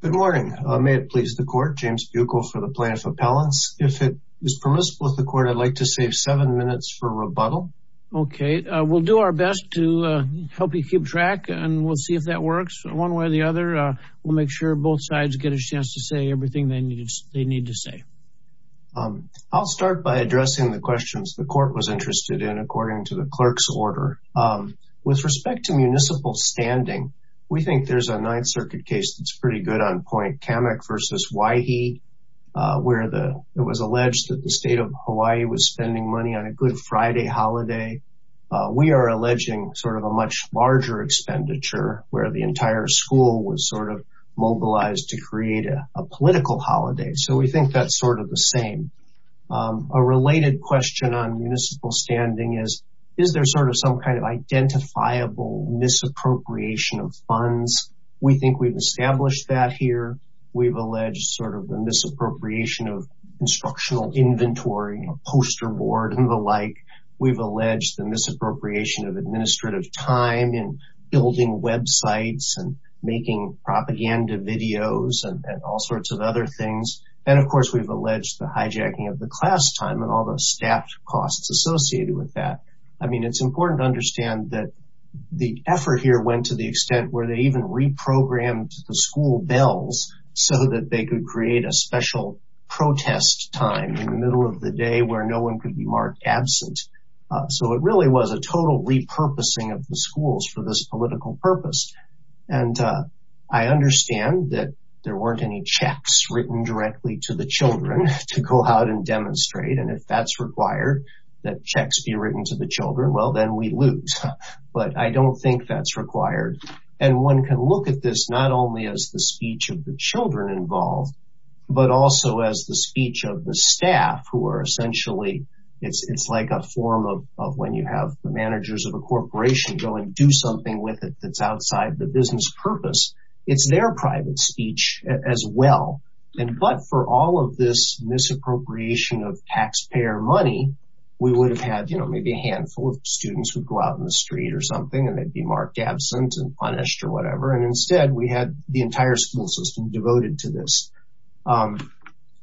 Good morning. May it please the court. James Buechel for the plaintiff appellants. If it is permissible with the court I'd like to save seven minutes for rebuttal. Okay we'll do our best to help you keep track and we'll see if that works. One way or the other we'll make sure both sides get a chance to say everything they need to say. I'll start by addressing the questions the court was interested in according to the clerk's order. With respect to municipal standing, we think there's a Ninth Circuit case that's pretty good on point. Kamek v. Waihe, where the it was alleged that the state of Hawaii was spending money on a good Friday holiday. We are alleging sort of a much larger expenditure where the entire school was sort of mobilized to create a political holiday. So we think that's sort of the same. A related question on municipal appropriation of funds. We think we've established that here. We've alleged sort of the misappropriation of instructional inventory, poster board and the like. We've alleged the misappropriation of administrative time in building websites and making propaganda videos and all sorts of other things. And of course we've alleged the hijacking of the class time and all the staff costs associated with that. I mean it's important to understand that the effort here went to the extent where they even reprogrammed the school bells so that they could create a special protest time in the middle of the day where no one could be marked absent. So it really was a total repurposing of the schools for this political purpose. And I understand that there weren't any checks written directly to the children to go out and demonstrate. And if that's required, that checks be written to the children, well then we lose. But I don't think that's required. And one can look at this not only as the speech of the children involved, but also as the speech of the staff who are essentially, it's like a form of when you have the managers of a corporation go and do something with it that's outside the business purpose. It's their private speech as well. And but for all of this misappropriation of taxpayer money, we would have had, you know, maybe a handful of students who go out in the street or something and they'd be marked absent and punished or whatever. And instead, we had the entire school system devoted to this.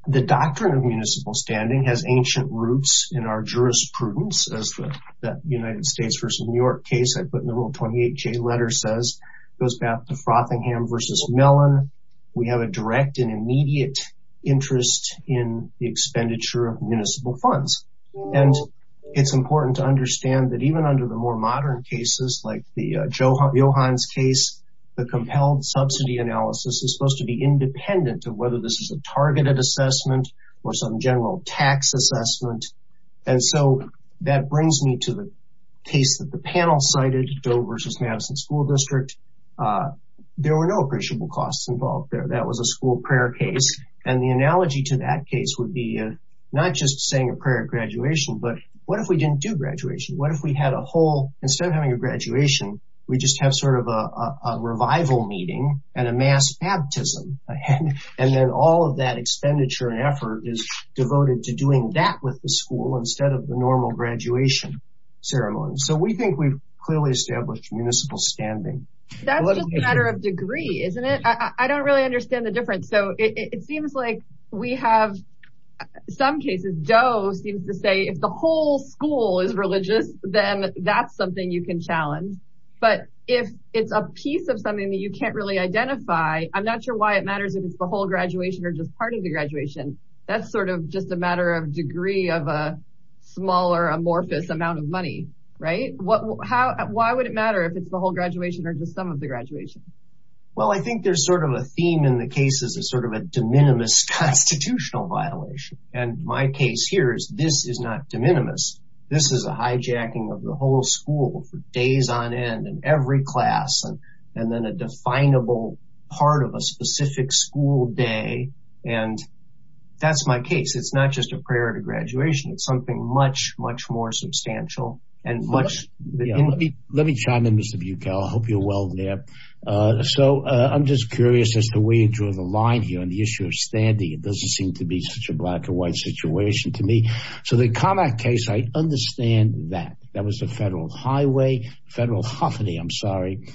The doctrine of municipal standing has ancient roots in our jurisprudence as the United States versus New York case I put in the Rule 28J letter says, goes back to Frothingham versus Mellon. We have a direct and immediate interest in the expenditure of municipal funds. And it's important to understand that even under the more modern cases like the Johans case, the compelled subsidy analysis is supposed to be independent of whether this is a targeted assessment or some general tax assessment. And so that brings me to the case that the panel cited, Doe versus Madison School District. There were no appreciable costs involved there. That was a school prayer case. And the analogy to that case would be not just saying a what if we didn't do graduation? What if we had a whole instead of having a graduation, we just have sort of a revival meeting and a mass baptism. And then all of that expenditure and effort is devoted to doing that with the school instead of the normal graduation ceremony. So we think we've clearly established municipal standing. That's just a matter of degree, isn't it? I don't really understand the difference. So it seems like we have some cases, Doe seems to say if the whole school is religious, then that's something you can challenge. But if it's a piece of something that you can't really identify, I'm not sure why it matters if it's the whole graduation or just part of the graduation. That's sort of just a matter of degree of a smaller amorphous amount of money, right? Why would it matter if it's the whole graduation or just some of the graduation? Well, I think there's sort of a theme in the case is a sort of a de minimis constitutional violation. And my case here is this is not de minimis. This is a hijacking of the whole school for days on end and every class and then a definable part of a specific school day. And that's my case. It's not just a prayer to graduation. It's something much, much more substantial and much Let me chime in, Mr. Bukel. I hope you're well there. So I'm just curious as to where you draw the line here on the issue of standing. It doesn't seem to be such a black and white situation to me. So the combat case, I understand that that was a federal highway, federal holiday. I'm sorry.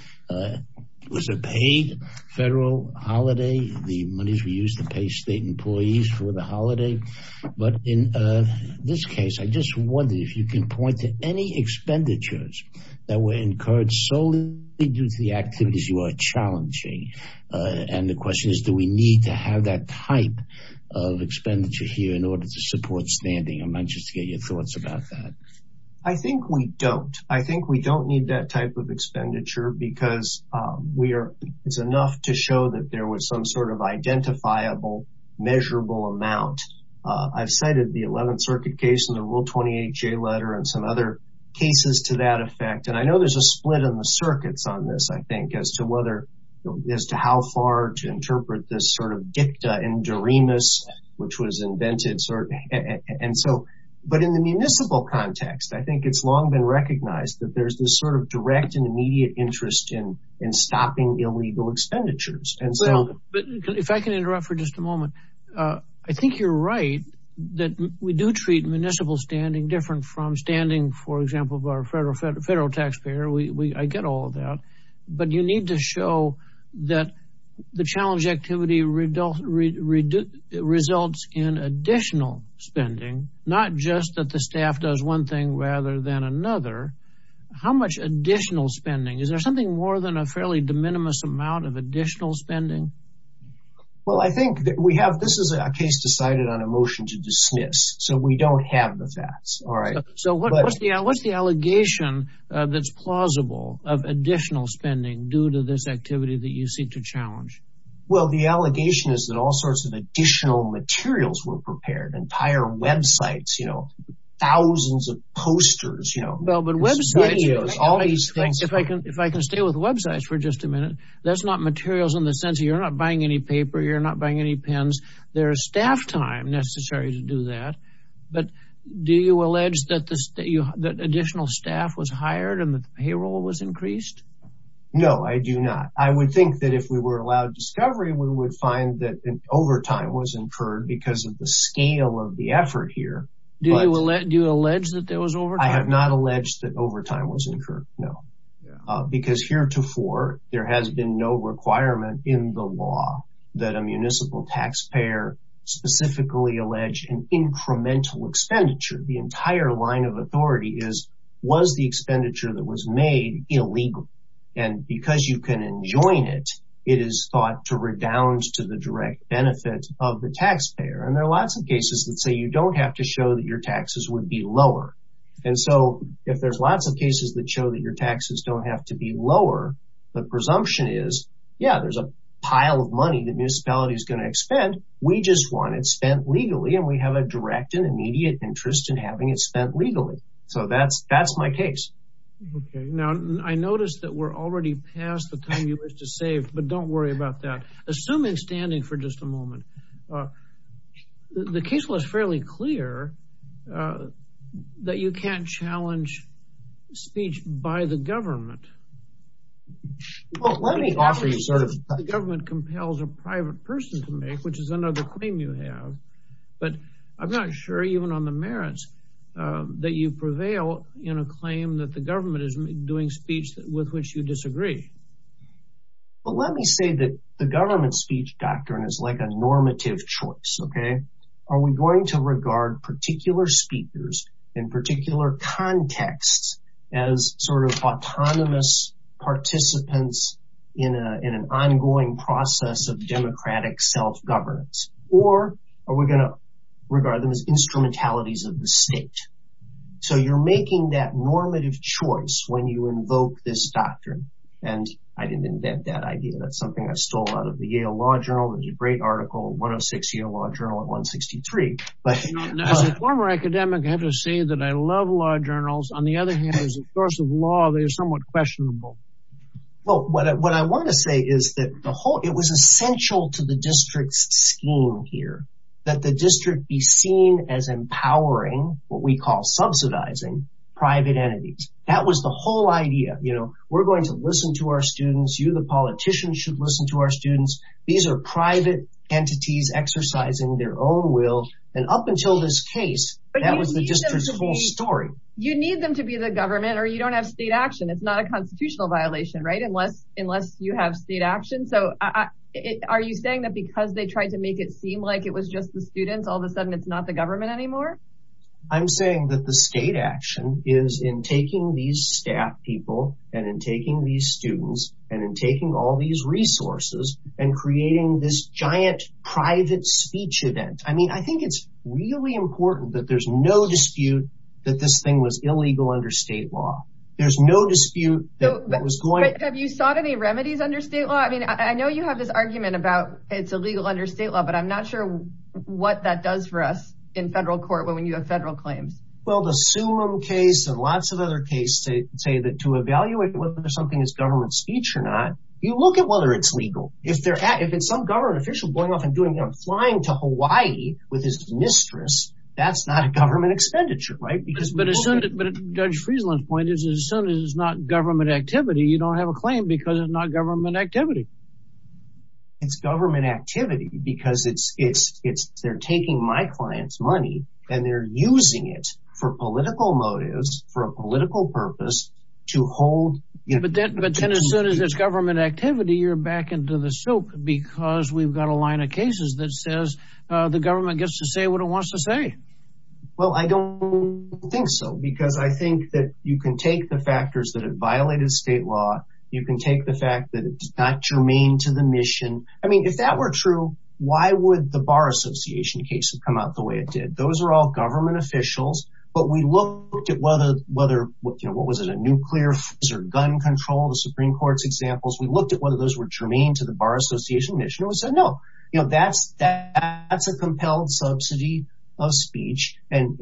It was a paid federal holiday. The monies were used to pay state employees for the holiday. But in this case, I just wonder if you can point to any expenditures that were incurred solely due to the activities you are challenging. And the question is, do we need to have that type of expenditure here in order to support standing? I'm anxious to get your thoughts about that. I think we don't. I think we don't need that type of expenditure because it's some sort of identifiable, measurable amount. I've cited the 11th Circuit case and the Rule 28 J letter and some other cases to that effect. And I know there's a split in the circuits on this, I think, as to whether, as to how far to interpret this sort of dicta in doremus, which was invented. And so, but in the municipal context, I think it's long been recognized that there's this sort of direct and immediate interest in stopping illegal expenditures. And so if I can interrupt for just a moment, I think you're right that we do treat municipal standing different from standing, for example, of our federal taxpayer. I get all of that. But you need to show that the challenge activity results in additional spending, not just that the staff does one thing rather than another. How much additional spending? Is there something more than a fairly de minimis amount of additional spending? Well, I think that we have, this is a case decided on a motion to dismiss. So we don't have the facts. All right. So what's the, what's the allegation that's plausible of additional spending due to this activity that you seek to challenge? Well, the allegation is that all sorts of additional materials were prepared, entire websites, you know, thousands of posters, you know, videos, all these things. If I can, if I just a minute, that's not materials in the sense that you're not buying any paper, you're not buying any pens. There is staff time necessary to do that. But do you allege that this, that additional staff was hired and the payroll was increased? No, I do not. I would think that if we were allowed discovery, we would find that an overtime was incurred because of the scale of the effort here. Do you allege that there was overtime? I have not alleged that overtime was incurred. There has been no requirement in the law that a municipal taxpayer specifically allege an incremental expenditure. The entire line of authority is, was the expenditure that was made illegal? And because you can enjoin it, it is thought to redound to the direct benefit of the taxpayer. And there are lots of cases that say you don't have to show that your taxes would be lower. And so if there's lots of cases that show that your taxes don't have to be lower, the presumption is, yeah, there's a pile of money that municipality is gonna expend. We just want it spent legally and we have a direct and immediate interest in having it spent legally. So that's my case. Okay. Now, I noticed that we're already past the time you wish to save, but don't worry about that. Assuming standing for just a moment, the case was fairly clear that you can't challenge speech by the government. Well, let me offer you sort of... The government compels a private person to make, which is another claim you have. But I'm not sure even on the merits that you prevail in a claim that the government is doing speech with which you disagree. Well, let me say that the government speech doctrine is like a normative choice, okay? Are we going to regard particular speakers in particular contexts as sort of autonomous participants in an ongoing process of democratic self governance? Or are we gonna regard them as instrumentalities of the state? So you're making that normative choice when you invoke this doctrine. And I didn't invent that idea. That's something I stole out of the Yale Law Journal. There's a great article, 106th Yale Law Journal at 163. As a former academic, I have to say that I love law journals. On the other hand, as a source of law, they are somewhat questionable. Well, what I wanna say is that it was essential to the district's scheme here, that the district be seen as empowering what we call subsidizing private entities. That was the whole idea. We're going to listen to our students, you, the politicians, should listen to our students. These are private entities exercising their own will. And up until this case, that was the district's whole story. You need them to be the government or you don't have state action. It's not a constitutional violation, right? Unless you have state action. So are you saying that because they tried to make it seem like it was just the students, all of a sudden it's not the government anymore? I'm saying that the state action is in taking these staff people and in taking these students and in taking all these resources and creating this giant private speech event. I think it's really important that there's no dispute that this thing was illegal under state law. There's no dispute that was going... Have you sought any remedies under state law? I know you have this argument about it's illegal under state law, but I'm not sure what that does for us in federal court when you have federal claims. Well, the Summum case and lots of other cases say that to evaluate whether something is government speech or not, you look at whether it's legal. If it's some government official going off and flying to Hawaii with his mistress, that's not a government expenditure, right? But Judge Friesland's point is as soon as it's not government activity, you don't have a claim because it's not government activity. It's government activity because they're taking my client's money and they're using it for political motives, for a political purpose to hold... But then as soon as it's government activity, you're back into the soap because we've got a line of cases that says the government gets to say what it wants to say. Well, I don't think so because I think that you can take the factors that have violated state law. You can take the fact that it's not germane to the mission. I mean, if that were true, why would the Bar Association case have come out the way it did? Those are all government officials, but we looked at whether... What was it? A nuclear gun control, the Supreme Court's examples. We looked at whether those were germane to the Bar Association mission. We said, no, that's a compelled subsidy of speech. And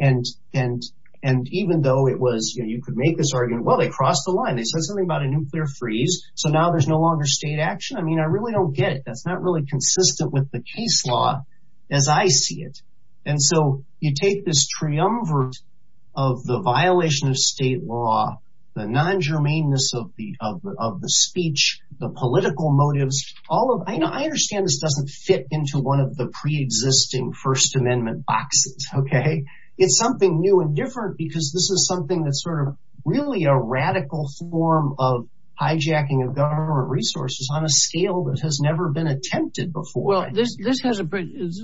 even though it was... You could make this argument, well, they crossed the line. They said something about a nuclear freeze, so now there's no longer state action. I mean, I really don't get it. That's not really consistent with the case law as I see it. And so you take this triumvirate of the violation of state law, the non germaneness of the speech, the political motives, all of... I understand this doesn't fit into one of the pre existing First Amendment boxes, okay? It's something new and different because this is something that's sort of really a radical form of hijacking of government resources on a scale that has never been attempted before. Well, this has a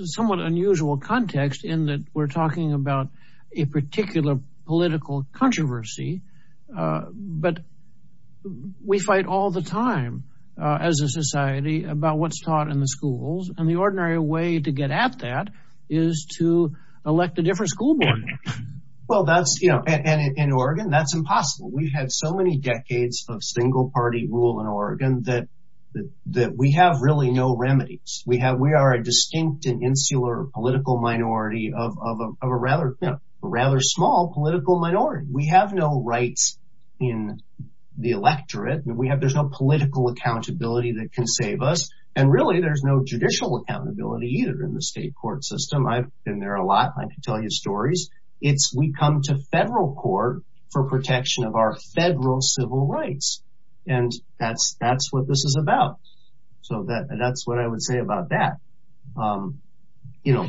somewhat unusual context in that we're talking about a particular political controversy, but we fight all the time as a society about what's taught in the schools. And the ordinary way to get at that is to elect a different school board member. Well, that's... And in Oregon, that's impossible. We've had so many decades of single party rule in Oregon that we have really no remedies. We are a distinct and insular political minority of a rather small political minority. We have no rights in the electorate. There's no political accountability that can save us. And really, there's no judicial accountability either in the state court system. I've been there a lot. I can tell you stories. It's we come to federal court for protection of our federal civil rights. And that's what this is about. So that's what I would say about that. The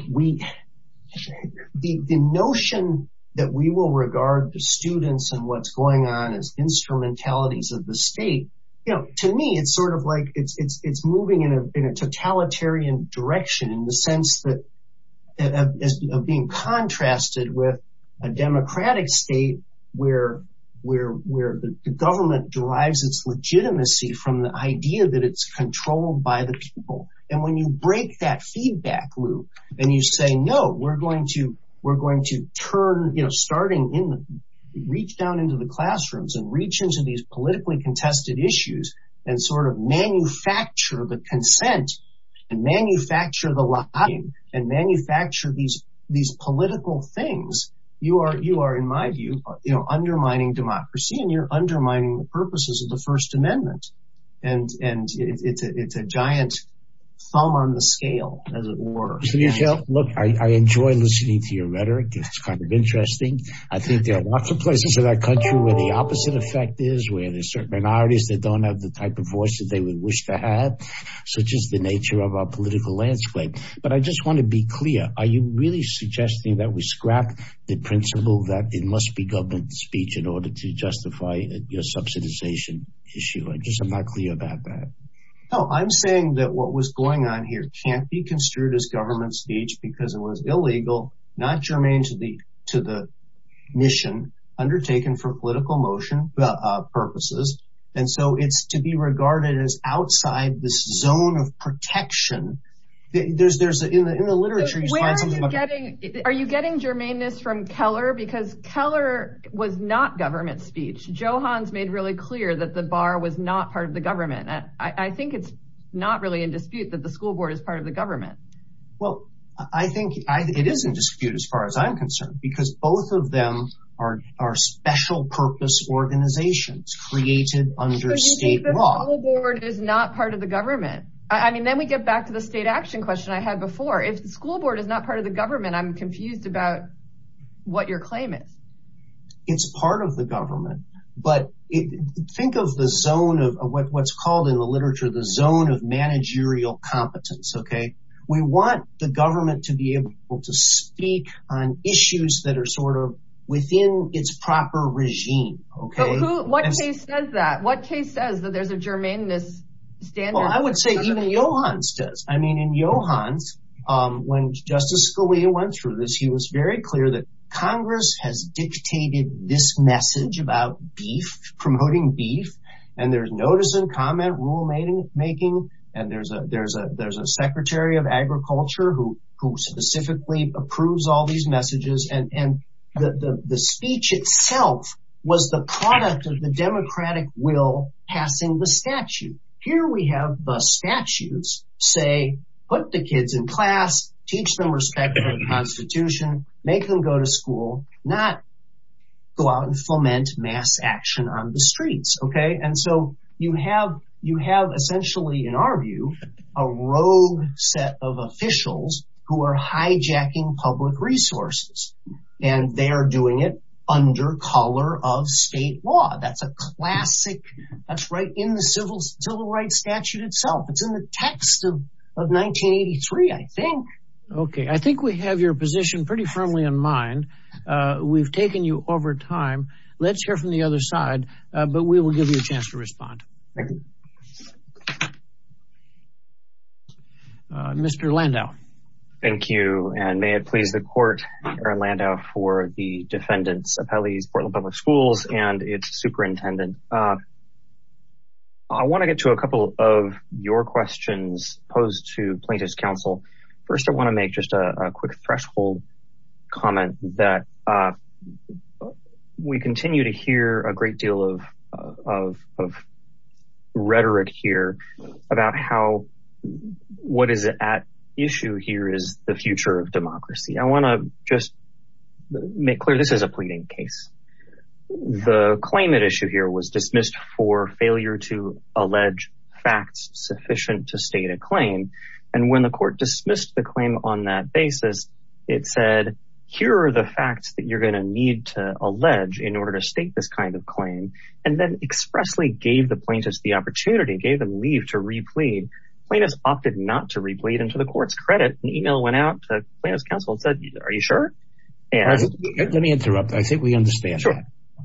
notion that we will regard the students and what's going on as instrumentalities of the state, to me, it's sort of like it's moving in a totalitarian direction in the sense that... Of being contrasted with a democratic state where the government derives its legitimacy from the idea that it's controlled by the people. And when you break that feedback loop and you say, no, we're going to turn... Starting in the... Reach down into the classrooms and reach into these politically contested issues and sort of manufacture the consent and manufacture the lobbying and manufacture these political things, you are, in my view, undermining democracy and you're undermining the purposes of the First Amendment. And it's a giant thumb on the scale, as it were. Senator Gell, look, I enjoy listening to your rhetoric. It's kind of interesting. I think there are lots of places in our country where the opposite effect is, where there's certain minorities that don't have the type of voice that they would wish to have, such as the nature of our political landscape. But I just wanna be clear about the principle that it must be government speech in order to justify your subsidization issue. I'm just not clear about that. No, I'm saying that what was going on here can't be construed as government speech because it was illegal, not germane to the mission undertaken for political motion purposes. And so it's to be regarded as outside this zone of the law. I'm gonna take this from Keller because Keller was not government speech. Joe Hans made really clear that the bar was not part of the government. I think it's not really in dispute that the school board is part of the government. Well, I think it is in dispute as far as I'm concerned, because both of them are special purpose organizations created under state law. So you think the school board is not part of the government? Then we get back to the state action question I had before. If the school board is not part of the government, I'm confused about what your claim is. It's part of the government, but think of the zone of what's called in the literature, the zone of managerial competence. We want the government to be able to speak on issues that are within its proper regime. But what case says that? What case says that there's a germaneness standard? Well, I would say even Johans does. I mean, in Johans, when Justice Scalia went through this, he was very clear that Congress has dictated this message about beef, promoting beef. And there's notice and comment rule making. And there's a secretary of agriculture who specifically approves all these messages. And the speech itself was the product of the democratic will passing the statute. Here we have the statutes say, put the kids in class, teach them respect for the constitution, make them go to school, not go out and foment mass action on the streets. Okay. And so you have, you have essentially, in our view, a rogue set of officials who are hijacking public resources. And they are doing it under color of state law. That's a classic. That's right in the civil civil rights statute itself. It's in the text of 1983, I think. Okay, I think we have your position pretty firmly in mind. We've taken you over time. Let's hear from the other side. But we will give you a chance to respond. Mr. Landau. Thank you. And may it please the court, Aaron Landau for the defendants appellees, Portland Public Schools, and its superintendent. I want to get to a couple of your questions posed to plaintiff's counsel. First, I want to make just a quick threshold comment that we continue to hear a great deal of rhetoric here about how, what is at issue here is the future of democracy. I want to just make clear this is a pleading case. The claim at issue here was dismissed for failure to allege facts sufficient to state a claim. And when the court dismissed the claim on that basis, it said, here are the facts that you're going to need to allege in order to state this kind of claim, and then expressly gave the plaintiffs the opportunity, gave them leave to replead. Plaintiffs opted not to plaintiffs counsel and said, are you sure? Let me interrupt. I think we understand.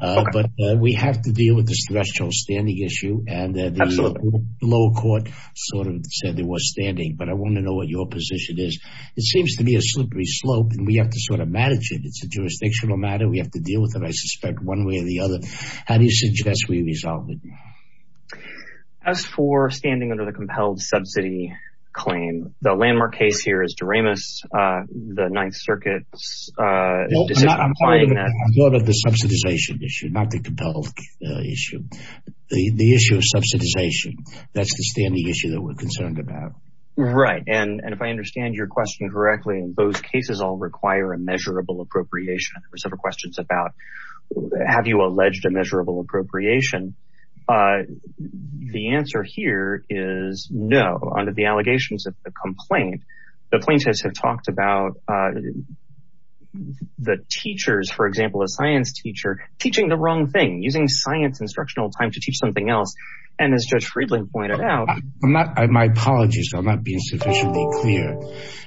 But we have to deal with this threshold standing issue. And the lower court sort of said there was standing, but I want to know what your position is. It seems to be a slippery slope and we have to sort of manage it. It's a jurisdictional matter. We have to deal with it, I suspect, one way or the other. How do you suggest we resolve it? As for standing under the compelled subsidy claim, the landmark case here is the Ninth Circuit's decision implying that... I'm talking about the subsidization issue, not the compelled issue. The issue of subsidization, that's the standing issue that we're concerned about. Right. And if I understand your question correctly, in both cases all require a measurable appropriation. There were several questions about, have you alleged a measurable appropriation? The answer here is no. Under the allegations of the complaint, the plaintiffs have talked about the teachers, for example, a science teacher, teaching the wrong thing, using science instructional time to teach something else. And as Judge Friedland pointed out... My apologies, I'm not being sufficiently clear.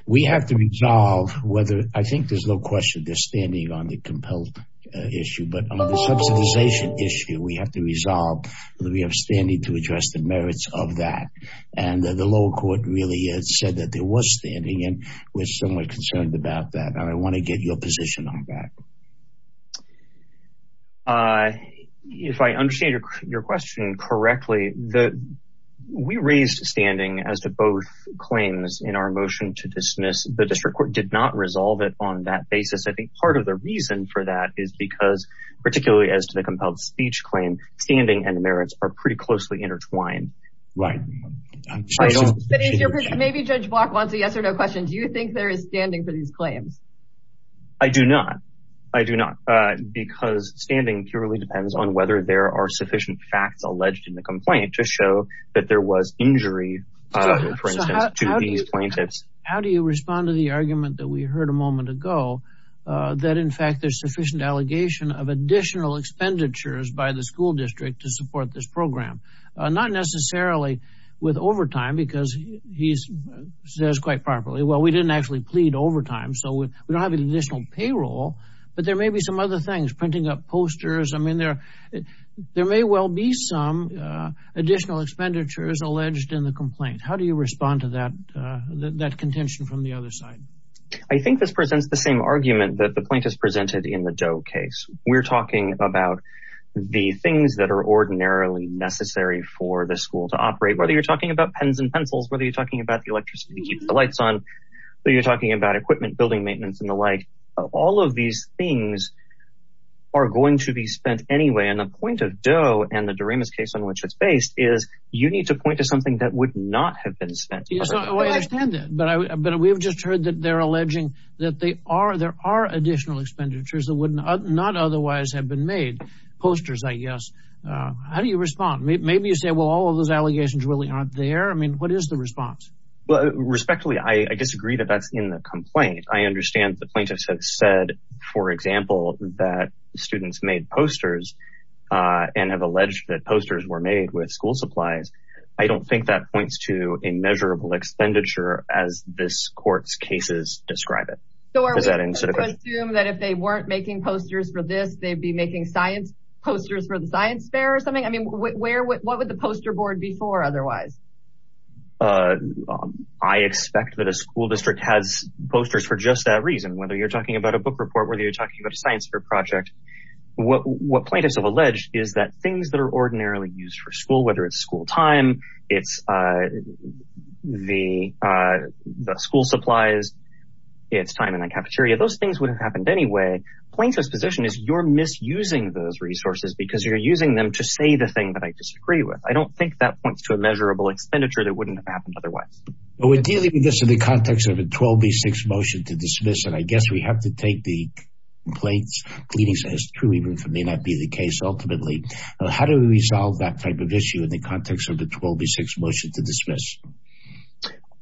We have to resolve whether, I think there's no question they're standing on the compelled issue, but on the subsidization issue, we have to resolve that we have standing to address the merits of that. And the lower court really said that there was standing, and we're somewhat concerned about that. And I wanna get your position on that. If I understand your question correctly, we raised standing as to both claims in our motion to dismiss. The district court did not resolve it on that basis. I think part of the reason for that is because, particularly as to the compelled speech claim, standing and merits are pretty closely intertwined. Right. Maybe Judge Block wants a yes or no question. Do you think there is standing for these claims? I do not. I do not. Because standing purely depends on whether there are sufficient facts alleged in the complaint to show that there was injury, for instance, to these plaintiffs. How do you respond to the argument that we heard a moment ago, that in fact, there's sufficient allegation of additional expenditures by the school district to support this program? Not necessarily with overtime, because he says quite properly, well, we didn't actually plead overtime, so we don't have any additional payroll, but there may be some other things, printing up posters. I mean, there may well be some additional expenditures alleged in the complaint. How do you respond to that contention from the other side? I think this presents the same argument that the school district has about the things that are ordinarily necessary for the school to operate, whether you're talking about pens and pencils, whether you're talking about the electricity to keep the lights on, whether you're talking about equipment, building maintenance and the like. All of these things are going to be spent anyway. And the point of Doe and the Doremus case on which it's based is you need to point to something that would not have been spent. I understand that, but we've just heard that they're alleging that there are additional expenditures that would not otherwise have been made. Posters, I guess. How do you respond? Maybe you say, well, all of those allegations really aren't there. I mean, what is the response? Well, respectfully, I disagree that that's in the complaint. I understand the plaintiffs have said, for example, that students made posters and have alleged that posters were made with school supplies. I don't think that points to a measurable expenditure, as this court's cases describe it. So are we to assume that if they weren't making posters for this, they'd be making science posters for the science fair or something? I mean, what would the poster board be for otherwise? I expect that a school district has posters for just that reason, whether you're talking about a book report, whether you're talking about a science fair project. What plaintiffs have alleged is that things that are ordinarily used for school, whether it's school time, it's the school supplies, it's time in the cafeteria, those things would have happened anyway. Plaintiff's position is you're misusing those resources because you're using them to say the thing that I disagree with. I don't think that points to a measurable expenditure that wouldn't have happened otherwise. But we're dealing with this in the context of a 12B6 motion to dismiss, and I guess we have to take the complaints, pleading says two even if it may not be the case, ultimately. How do we resolve that type of issue in the context of the 12B6 motion to dismiss?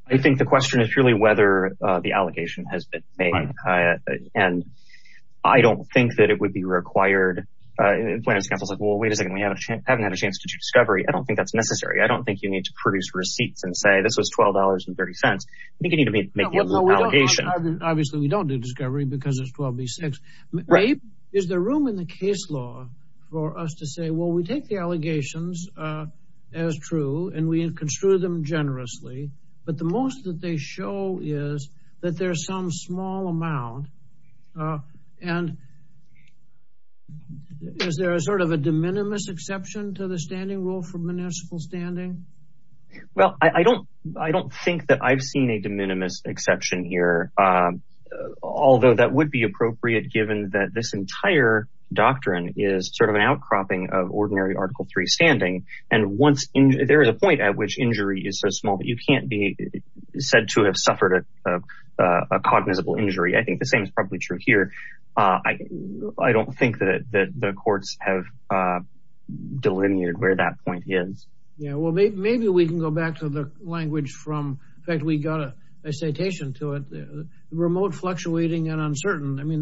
I think the question is really whether the allegation has been made. And I don't think that it would be required. Plaintiff's counsel is like, well, wait a second, we haven't had a chance to do discovery. I don't think that's necessary. I don't think you need to produce receipts and say this was $12.30. I think you need to make the allegation. Obviously, we don't do discovery because it's 12B6. Is there room in the case law for us to say, well, we take the allegations as true, and we construe them generously. But the most that they show is that there's some small amount. And is there a sort of a de minimis exception to the standing rule for municipal standing? Well, I don't think that I've seen a de minimis exception here, although that would be appropriate given that this entire doctrine is sort of an outcropping of ordinary Article III standing. And there is a point at which injury is so small that you I think the same is probably true here. I don't think that the courts have delineated where that point is. Yeah, well, maybe we can go back to the language from, in fact, we got a citation to it, remote fluctuating and uncertain. I mean,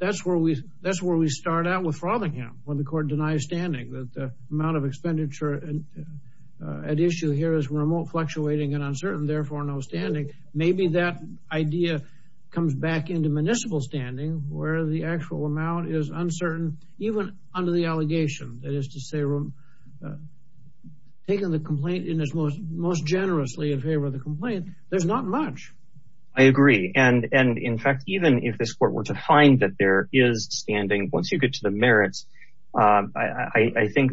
that's where we start out with Frothingham, when the court denies standing, that the amount of expenditure at issue here is remote fluctuating and uncertain, therefore, no standing. Maybe that idea comes back into municipal standing, where the actual amount is uncertain, even under the allegation. That is to say, taking the complaint in as most generously in favor of the complaint, there's not much. I agree. And in fact, even if this court were to find that there is standing once you get to the merits, I think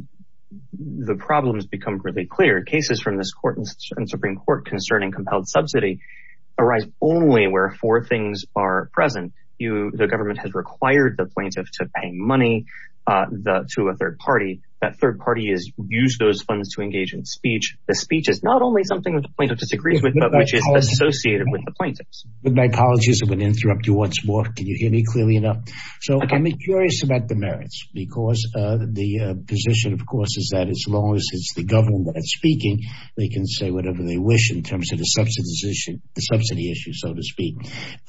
the problem has become really clear. Cases from this court and Supreme Court concerning compelled subsidy arise only where four things are present. The government has required the plaintiff to pay money to a third party. That third party has used those funds to engage in speech. The speech is not only something that the plaintiff disagrees with, but which is associated with the plaintiffs. With my apologies, I'm going to interrupt you once more. Can you hear me clearly enough? So I'm curious about the merits, because the position, of the government that's speaking, they can say whatever they wish in terms of the subsidy issue, so to speak.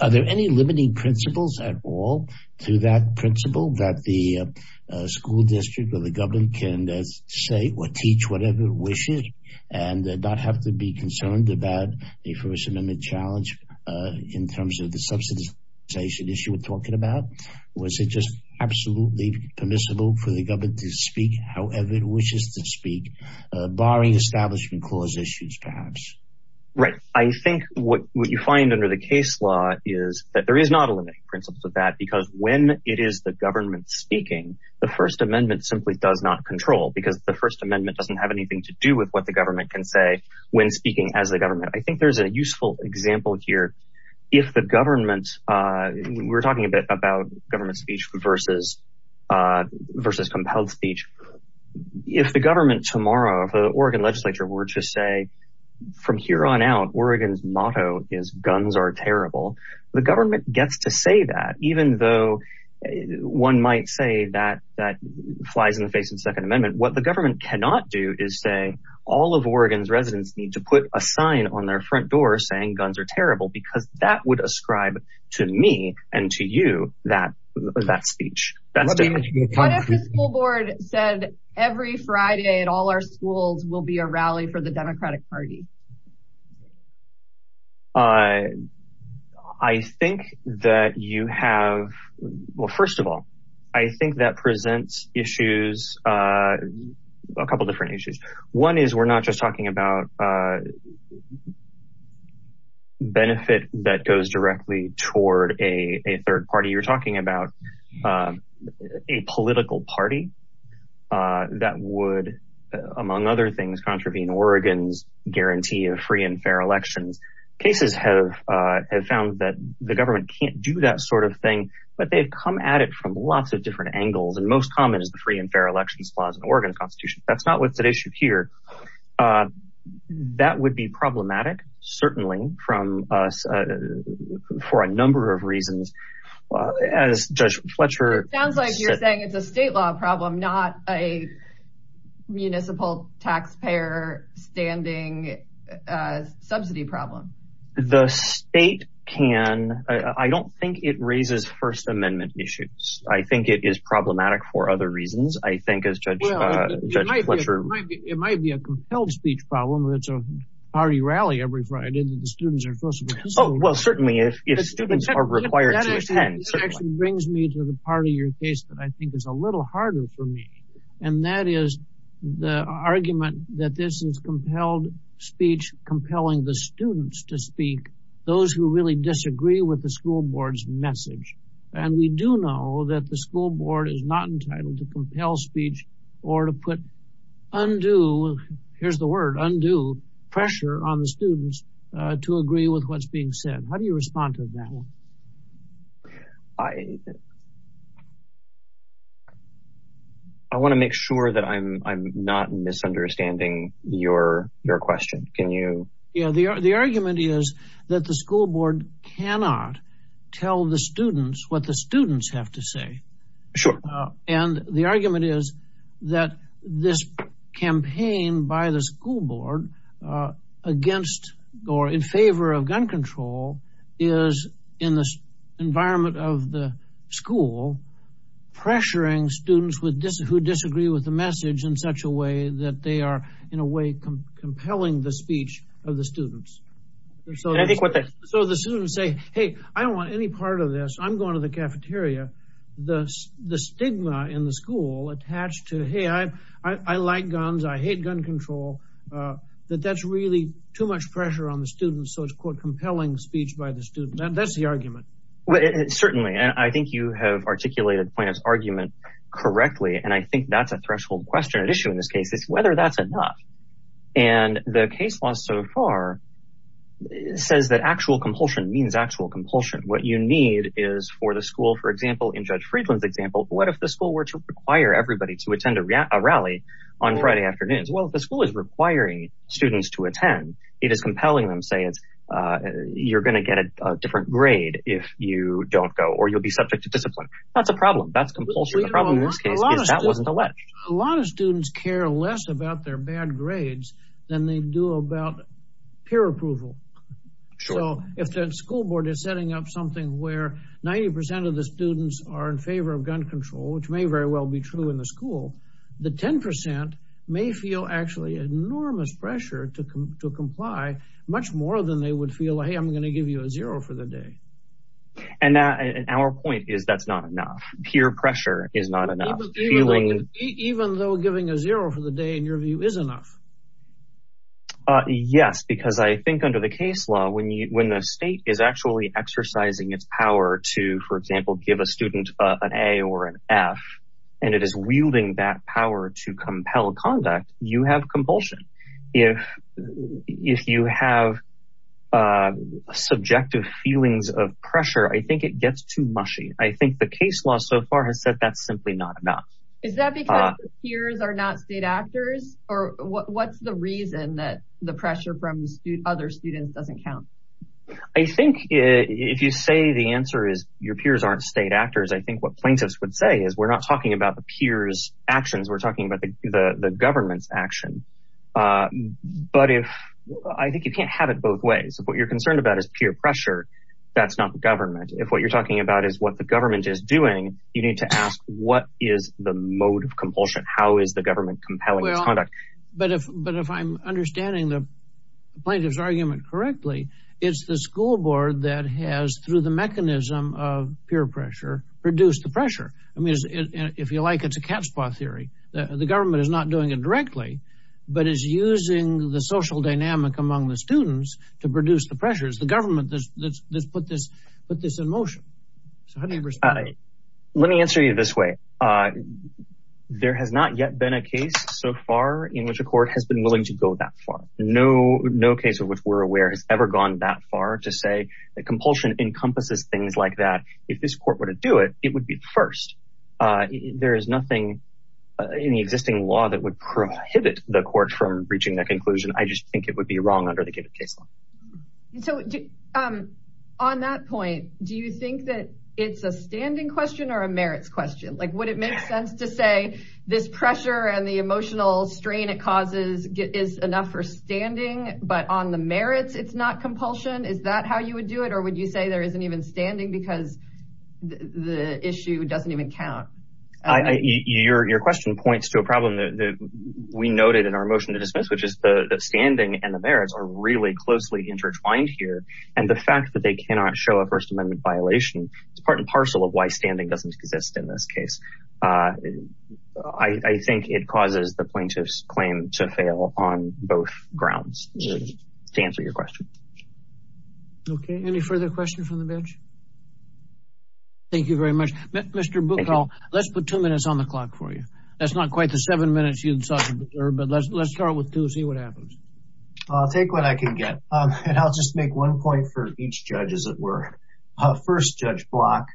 Are there any limiting principles at all to that principle that the school district or the government can say or teach whatever it wishes, and not have to be concerned about the First Amendment challenge in terms of the subsidization issue we're talking about? Was it just absolutely permissible for the government to speak however it wishes to speak, barring establishment clause issues, perhaps? Right. I think what you find under the case law is that there is not a limiting principle to that, because when it is the government speaking, the First Amendment simply does not control, because the First Amendment doesn't have anything to do with what the government can say when speaking as the government. I think there's a useful example here. If the government, we're talking a bit about government speech versus compelled speech. If the government tomorrow, if the Oregon legislature were to say, from here on out, Oregon's motto is guns are terrible, the government gets to say that, even though one might say that that flies in the face of the Second Amendment. What the government cannot do is say, all of Oregon's residents need to put a sign on their front door saying guns are terrible, because that would ascribe to me and to that speech. What if the school board said every Friday at all our schools will be a rally for the Democratic Party? I think that you have, well, first of all, I think that presents issues, a couple different issues. One is we're not just talking about benefit that goes directly toward a third party. You're talking about a political party that would, among other things, contravene Oregon's guarantee of free and fair elections. Cases have found that the government can't do that sort of thing, but they've come at it from lots of different angles. And most common is the free and fair elections clause in Oregon's constitution. That's not what's issue here. That would be problematic, certainly, for a number of reasons, as Judge Fletcher said. It sounds like you're saying it's a state law problem, not a municipal taxpayer standing subsidy problem. The state can, I don't think it raises First Amendment issues. I think it is it might be a compelled speech problem. It's a party rally every Friday that the students are supposed to be at school. Well, certainly if students are required to attend. That actually brings me to the part of your case that I think is a little harder for me. And that is the argument that this is compelled speech compelling the students to speak, those who really disagree with the school board's message. And we do know that the school board is not entitled to compel speech or to put undue, here's the word, undue pressure on the students to agree with what's being said. How do you respond to that one? I want to make sure that I'm not misunderstanding your question. Can you? Yeah, the argument is that the school board cannot tell the students what the students have to say. Sure. And the argument is that this campaign by the school board against or in favor of gun control is in the environment of the school pressuring students with this who disagree with the message in such a way that they are in a way compelling the speech of the students. So I think what the so the students say, hey, I don't want any part of this. I'm going to the cafeteria. The stigma in the school attached to, hey, I like guns, I hate gun control, that that's really too much pressure on the students. So it's called compelling speech by the student. That's the argument. Certainly. And I think you have articulated the point of argument correctly. And I think that's a threshold question at issue in this case is whether that's enough. And the case law so far says that actual compulsion means actual compulsion. What you need is for the school, for example, in Judge Friedland's example, what if the school were to require everybody to attend a rally on Friday afternoons? Well, if the school is requiring students to attend, it is compelling them say it's you're going to get a different grade if you don't go or you'll be subject to discipline. That's a problem. That's compulsion. The problem in this case is that wasn't alleged. A lot of students care less about their bad grades than they do about peer pressure, which is something where 90 percent of the students are in favor of gun control, which may very well be true in the school. The 10 percent may feel actually enormous pressure to comply much more than they would feel, hey, I'm going to give you a zero for the day. And our point is that's not enough. Peer pressure is not enough, even though giving a zero for the day, in your view, is enough. Yes, because I think under the case law, when you when the state is actually exercising its power to, for example, give a student an A or an F and it is wielding that power to compel conduct, you have compulsion. If if you have subjective feelings of pressure, I think it gets too mushy. I think the case law so far has said that's simply not enough. Is that because peers are not state actors or what's the reason that the pressure from other students doesn't count? I think if you say the answer is your peers aren't state actors, I think what plaintiffs would say is we're not talking about the peers actions. We're talking about the government's action. But if I think you can't have it both ways, what you're concerned about is peer pressure. That's not the government. If what you're talking about is what the government is doing, you need to ask what is the mode of compulsion? How is the government compelling conduct? But if but if I'm understanding the plaintiff's argument correctly, it's the school board that has, through the mechanism of peer pressure, reduced the pressure. I mean, if you like, it's a cat's paw theory. The government is not doing it directly, but is using the social dynamic among the students to produce the pressures. The government that's put this put this in motion. So how do you respond? Let me answer you this way. There has not yet been a case so far in which a court has been willing to go that far. No, no case of which we're aware has ever gone that far to say that compulsion encompasses things like that. If this court were to do it, it would be first. There is nothing in the existing law that would prohibit the court from reaching that conclusion. I just think it would be wrong under the case law. So on that point, do you think that it's a standing question or a merits question? Like, would it make sense to say this pressure and the emotional strain it causes is enough for standing, but on the merits, it's not compulsion? Is that how you would do it? Or would you say there isn't even standing because the issue doesn't even count? Your question points to a problem that we noted in our motion to dismiss, which is the standing and the merits are really closely intertwined here. And the fact that they cannot show a First Amendment violation is part and parcel of why standing doesn't exist in this case. I think it causes the plaintiff's claim to fail on both grounds to answer your question. OK, any further questions from the bench? Thank you very much, Mr. Buchholz. Let's put two minutes on the clock for you. That's not quite the seven minutes you'd thought, but let's start with two, see what happens. I'll take what I can get and I'll just make one point for each judge, as it were. First Judge Block,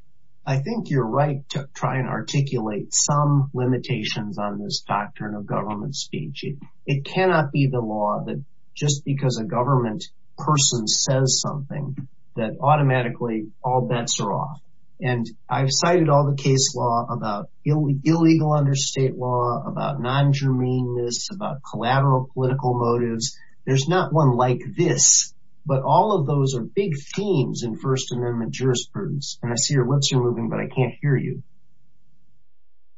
I think you're right to try and articulate some limitations on this doctrine of government speech. It cannot be the law that just because a government person says something that automatically all bets are off. And I've cited all the case law about illegal understate law, about non-germaneness, about collateral political motives. There's not one like this, but all of those are big themes in First Amendment jurisprudence. And I see your lips are moving, but I can't hear you.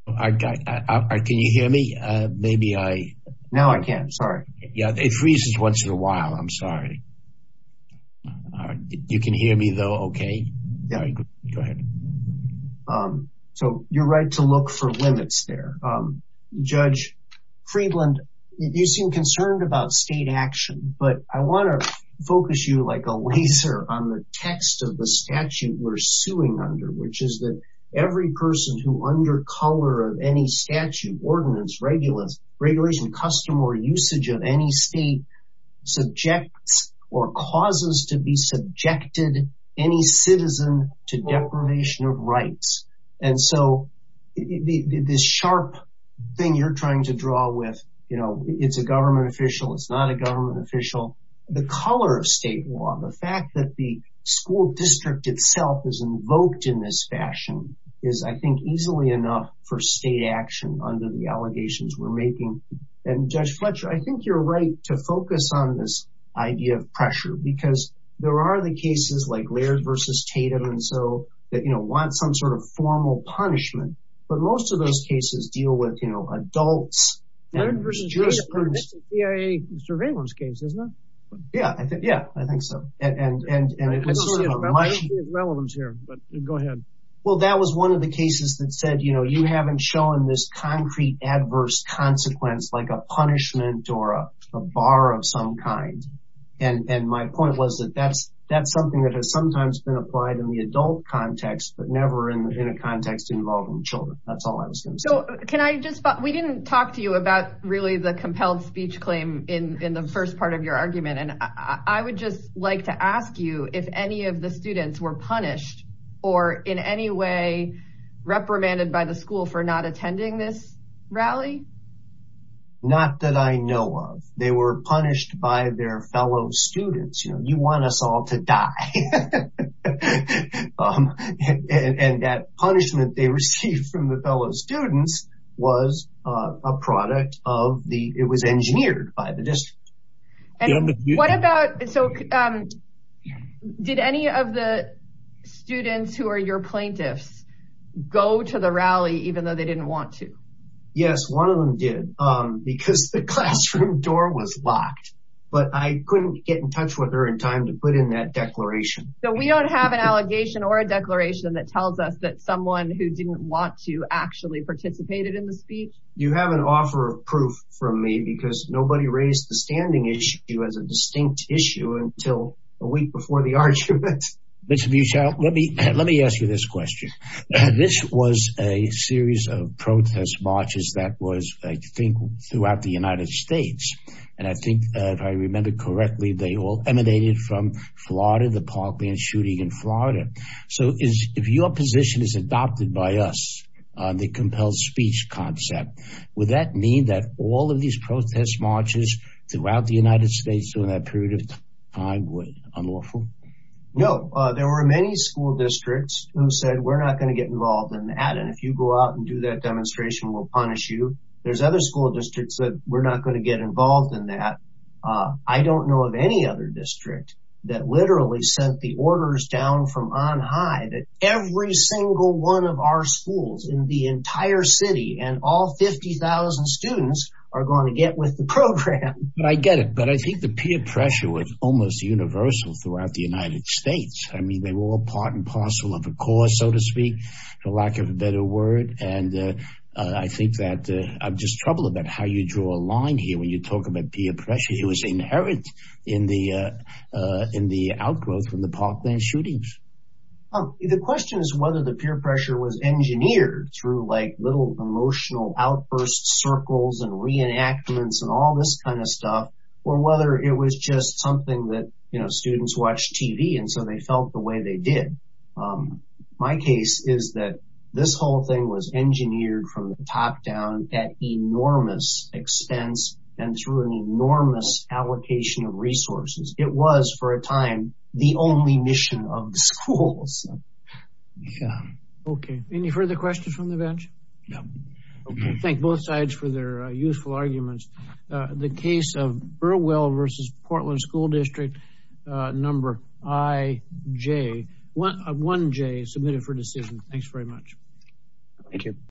Can you hear me? Maybe I... Now I can. Sorry. Yeah, it freezes once in a while. I'm sorry. You can hear me, though, OK? Go ahead. So you're right to look for limits there. Judge Friedland, you seem concerned about state action, but I want to focus you like a laser on the text of the statute we're suing under, which is that every person who under color of any statute, ordinance, regulates, regulation, custom or usage of any state subjects or causes to be subjected any citizen to deprivation of rights. And so this sharp thing you're trying to draw with, you know, it's a government official, it's not a government official. The color of state law, the fact that the school district itself is invoked in this fashion is, I think, easily enough for state action under the allegations we're making. And Judge Fletcher, I think you're right to focus on this idea of pressure because there are the cases like Laird versus Tatum and so that, you know, want some sort of formal punishment. But most of those cases deal with, you know, adults. Laird versus Tatum is a CIA surveillance case, isn't it? Yeah. Yeah, I think so. And it's sort of a mushy... I don't see a relevance here, but go ahead. Well, that was one of the cases that said, you know, you haven't shown this concrete adverse consequence, like a punishment or a bar of some kind. And my point was that that's something that has sometimes been applied in the adult context, but never in a context involving children. That's all I was going to say. We didn't talk to you about really the compelled speech claim in the first part of your argument. And I would just like to ask you if any of the students were punished or in any way reprimanded by the school for not attending this rally? Not that I know of. They were punished by their fellow students. You know, you want us all to die. And that punishment they received from the fellow students was a product of the... It was engineered by the district. And what about... So did any of the students who are your plaintiffs go to the rally, even though they didn't want to? Yes, one of them did, because the classroom door was locked. But I couldn't get in touch with her in time to put in that declaration. So we don't have an allegation or a declaration that tells us that someone who didn't want to actually participated in the speech? You have an offer of proof from me because nobody raised the standing issue as a distinct issue until a week before the argument. Mr. Butchow, let me let me ask you this question. This was a series of protest marches that was, I think, throughout the United States. And I think if I remember correctly, they all emanated from Florida, the Parkland shooting in Florida. So if your position is adopted by us on the compelled speech concept, would that mean that all of these protest marches throughout the United States during that period of time were unlawful? No, there were many school districts who said, we're not going to get involved in that. And if you go out and do that demonstration, we'll punish you. There's other school districts that we're not going to get involved in that. I don't know of any other district that literally sent the orders down from on high that every single one of our schools in the entire city and all 50,000 students are going to get with the program. But I get it. But I think the peer pressure was almost universal throughout the United States. I mean, they were all part and parcel of a cause, so to speak, for lack of a better word. And I think that I'm just troubled about how you draw a line here when you talk about peer pressure. It was inherent in the in the outgrowth from the Parkland shootings. The question is whether the peer pressure was engineered through like little emotional outburst circles and reenactments and all this kind of stuff, or whether it was just something that, you know, students watch TV and so they felt the way they did. My case is that this whole thing was engineered from the top down at enormous expense and through an enormous allocation of resources. It was, for a time, the only mission of the schools. Okay. Any further questions from the bench? No. Thank both sides for their useful arguments. The case of Burwell versus Portland School District number IJ, 1J, submitted for decision. Thanks very much. Thank you.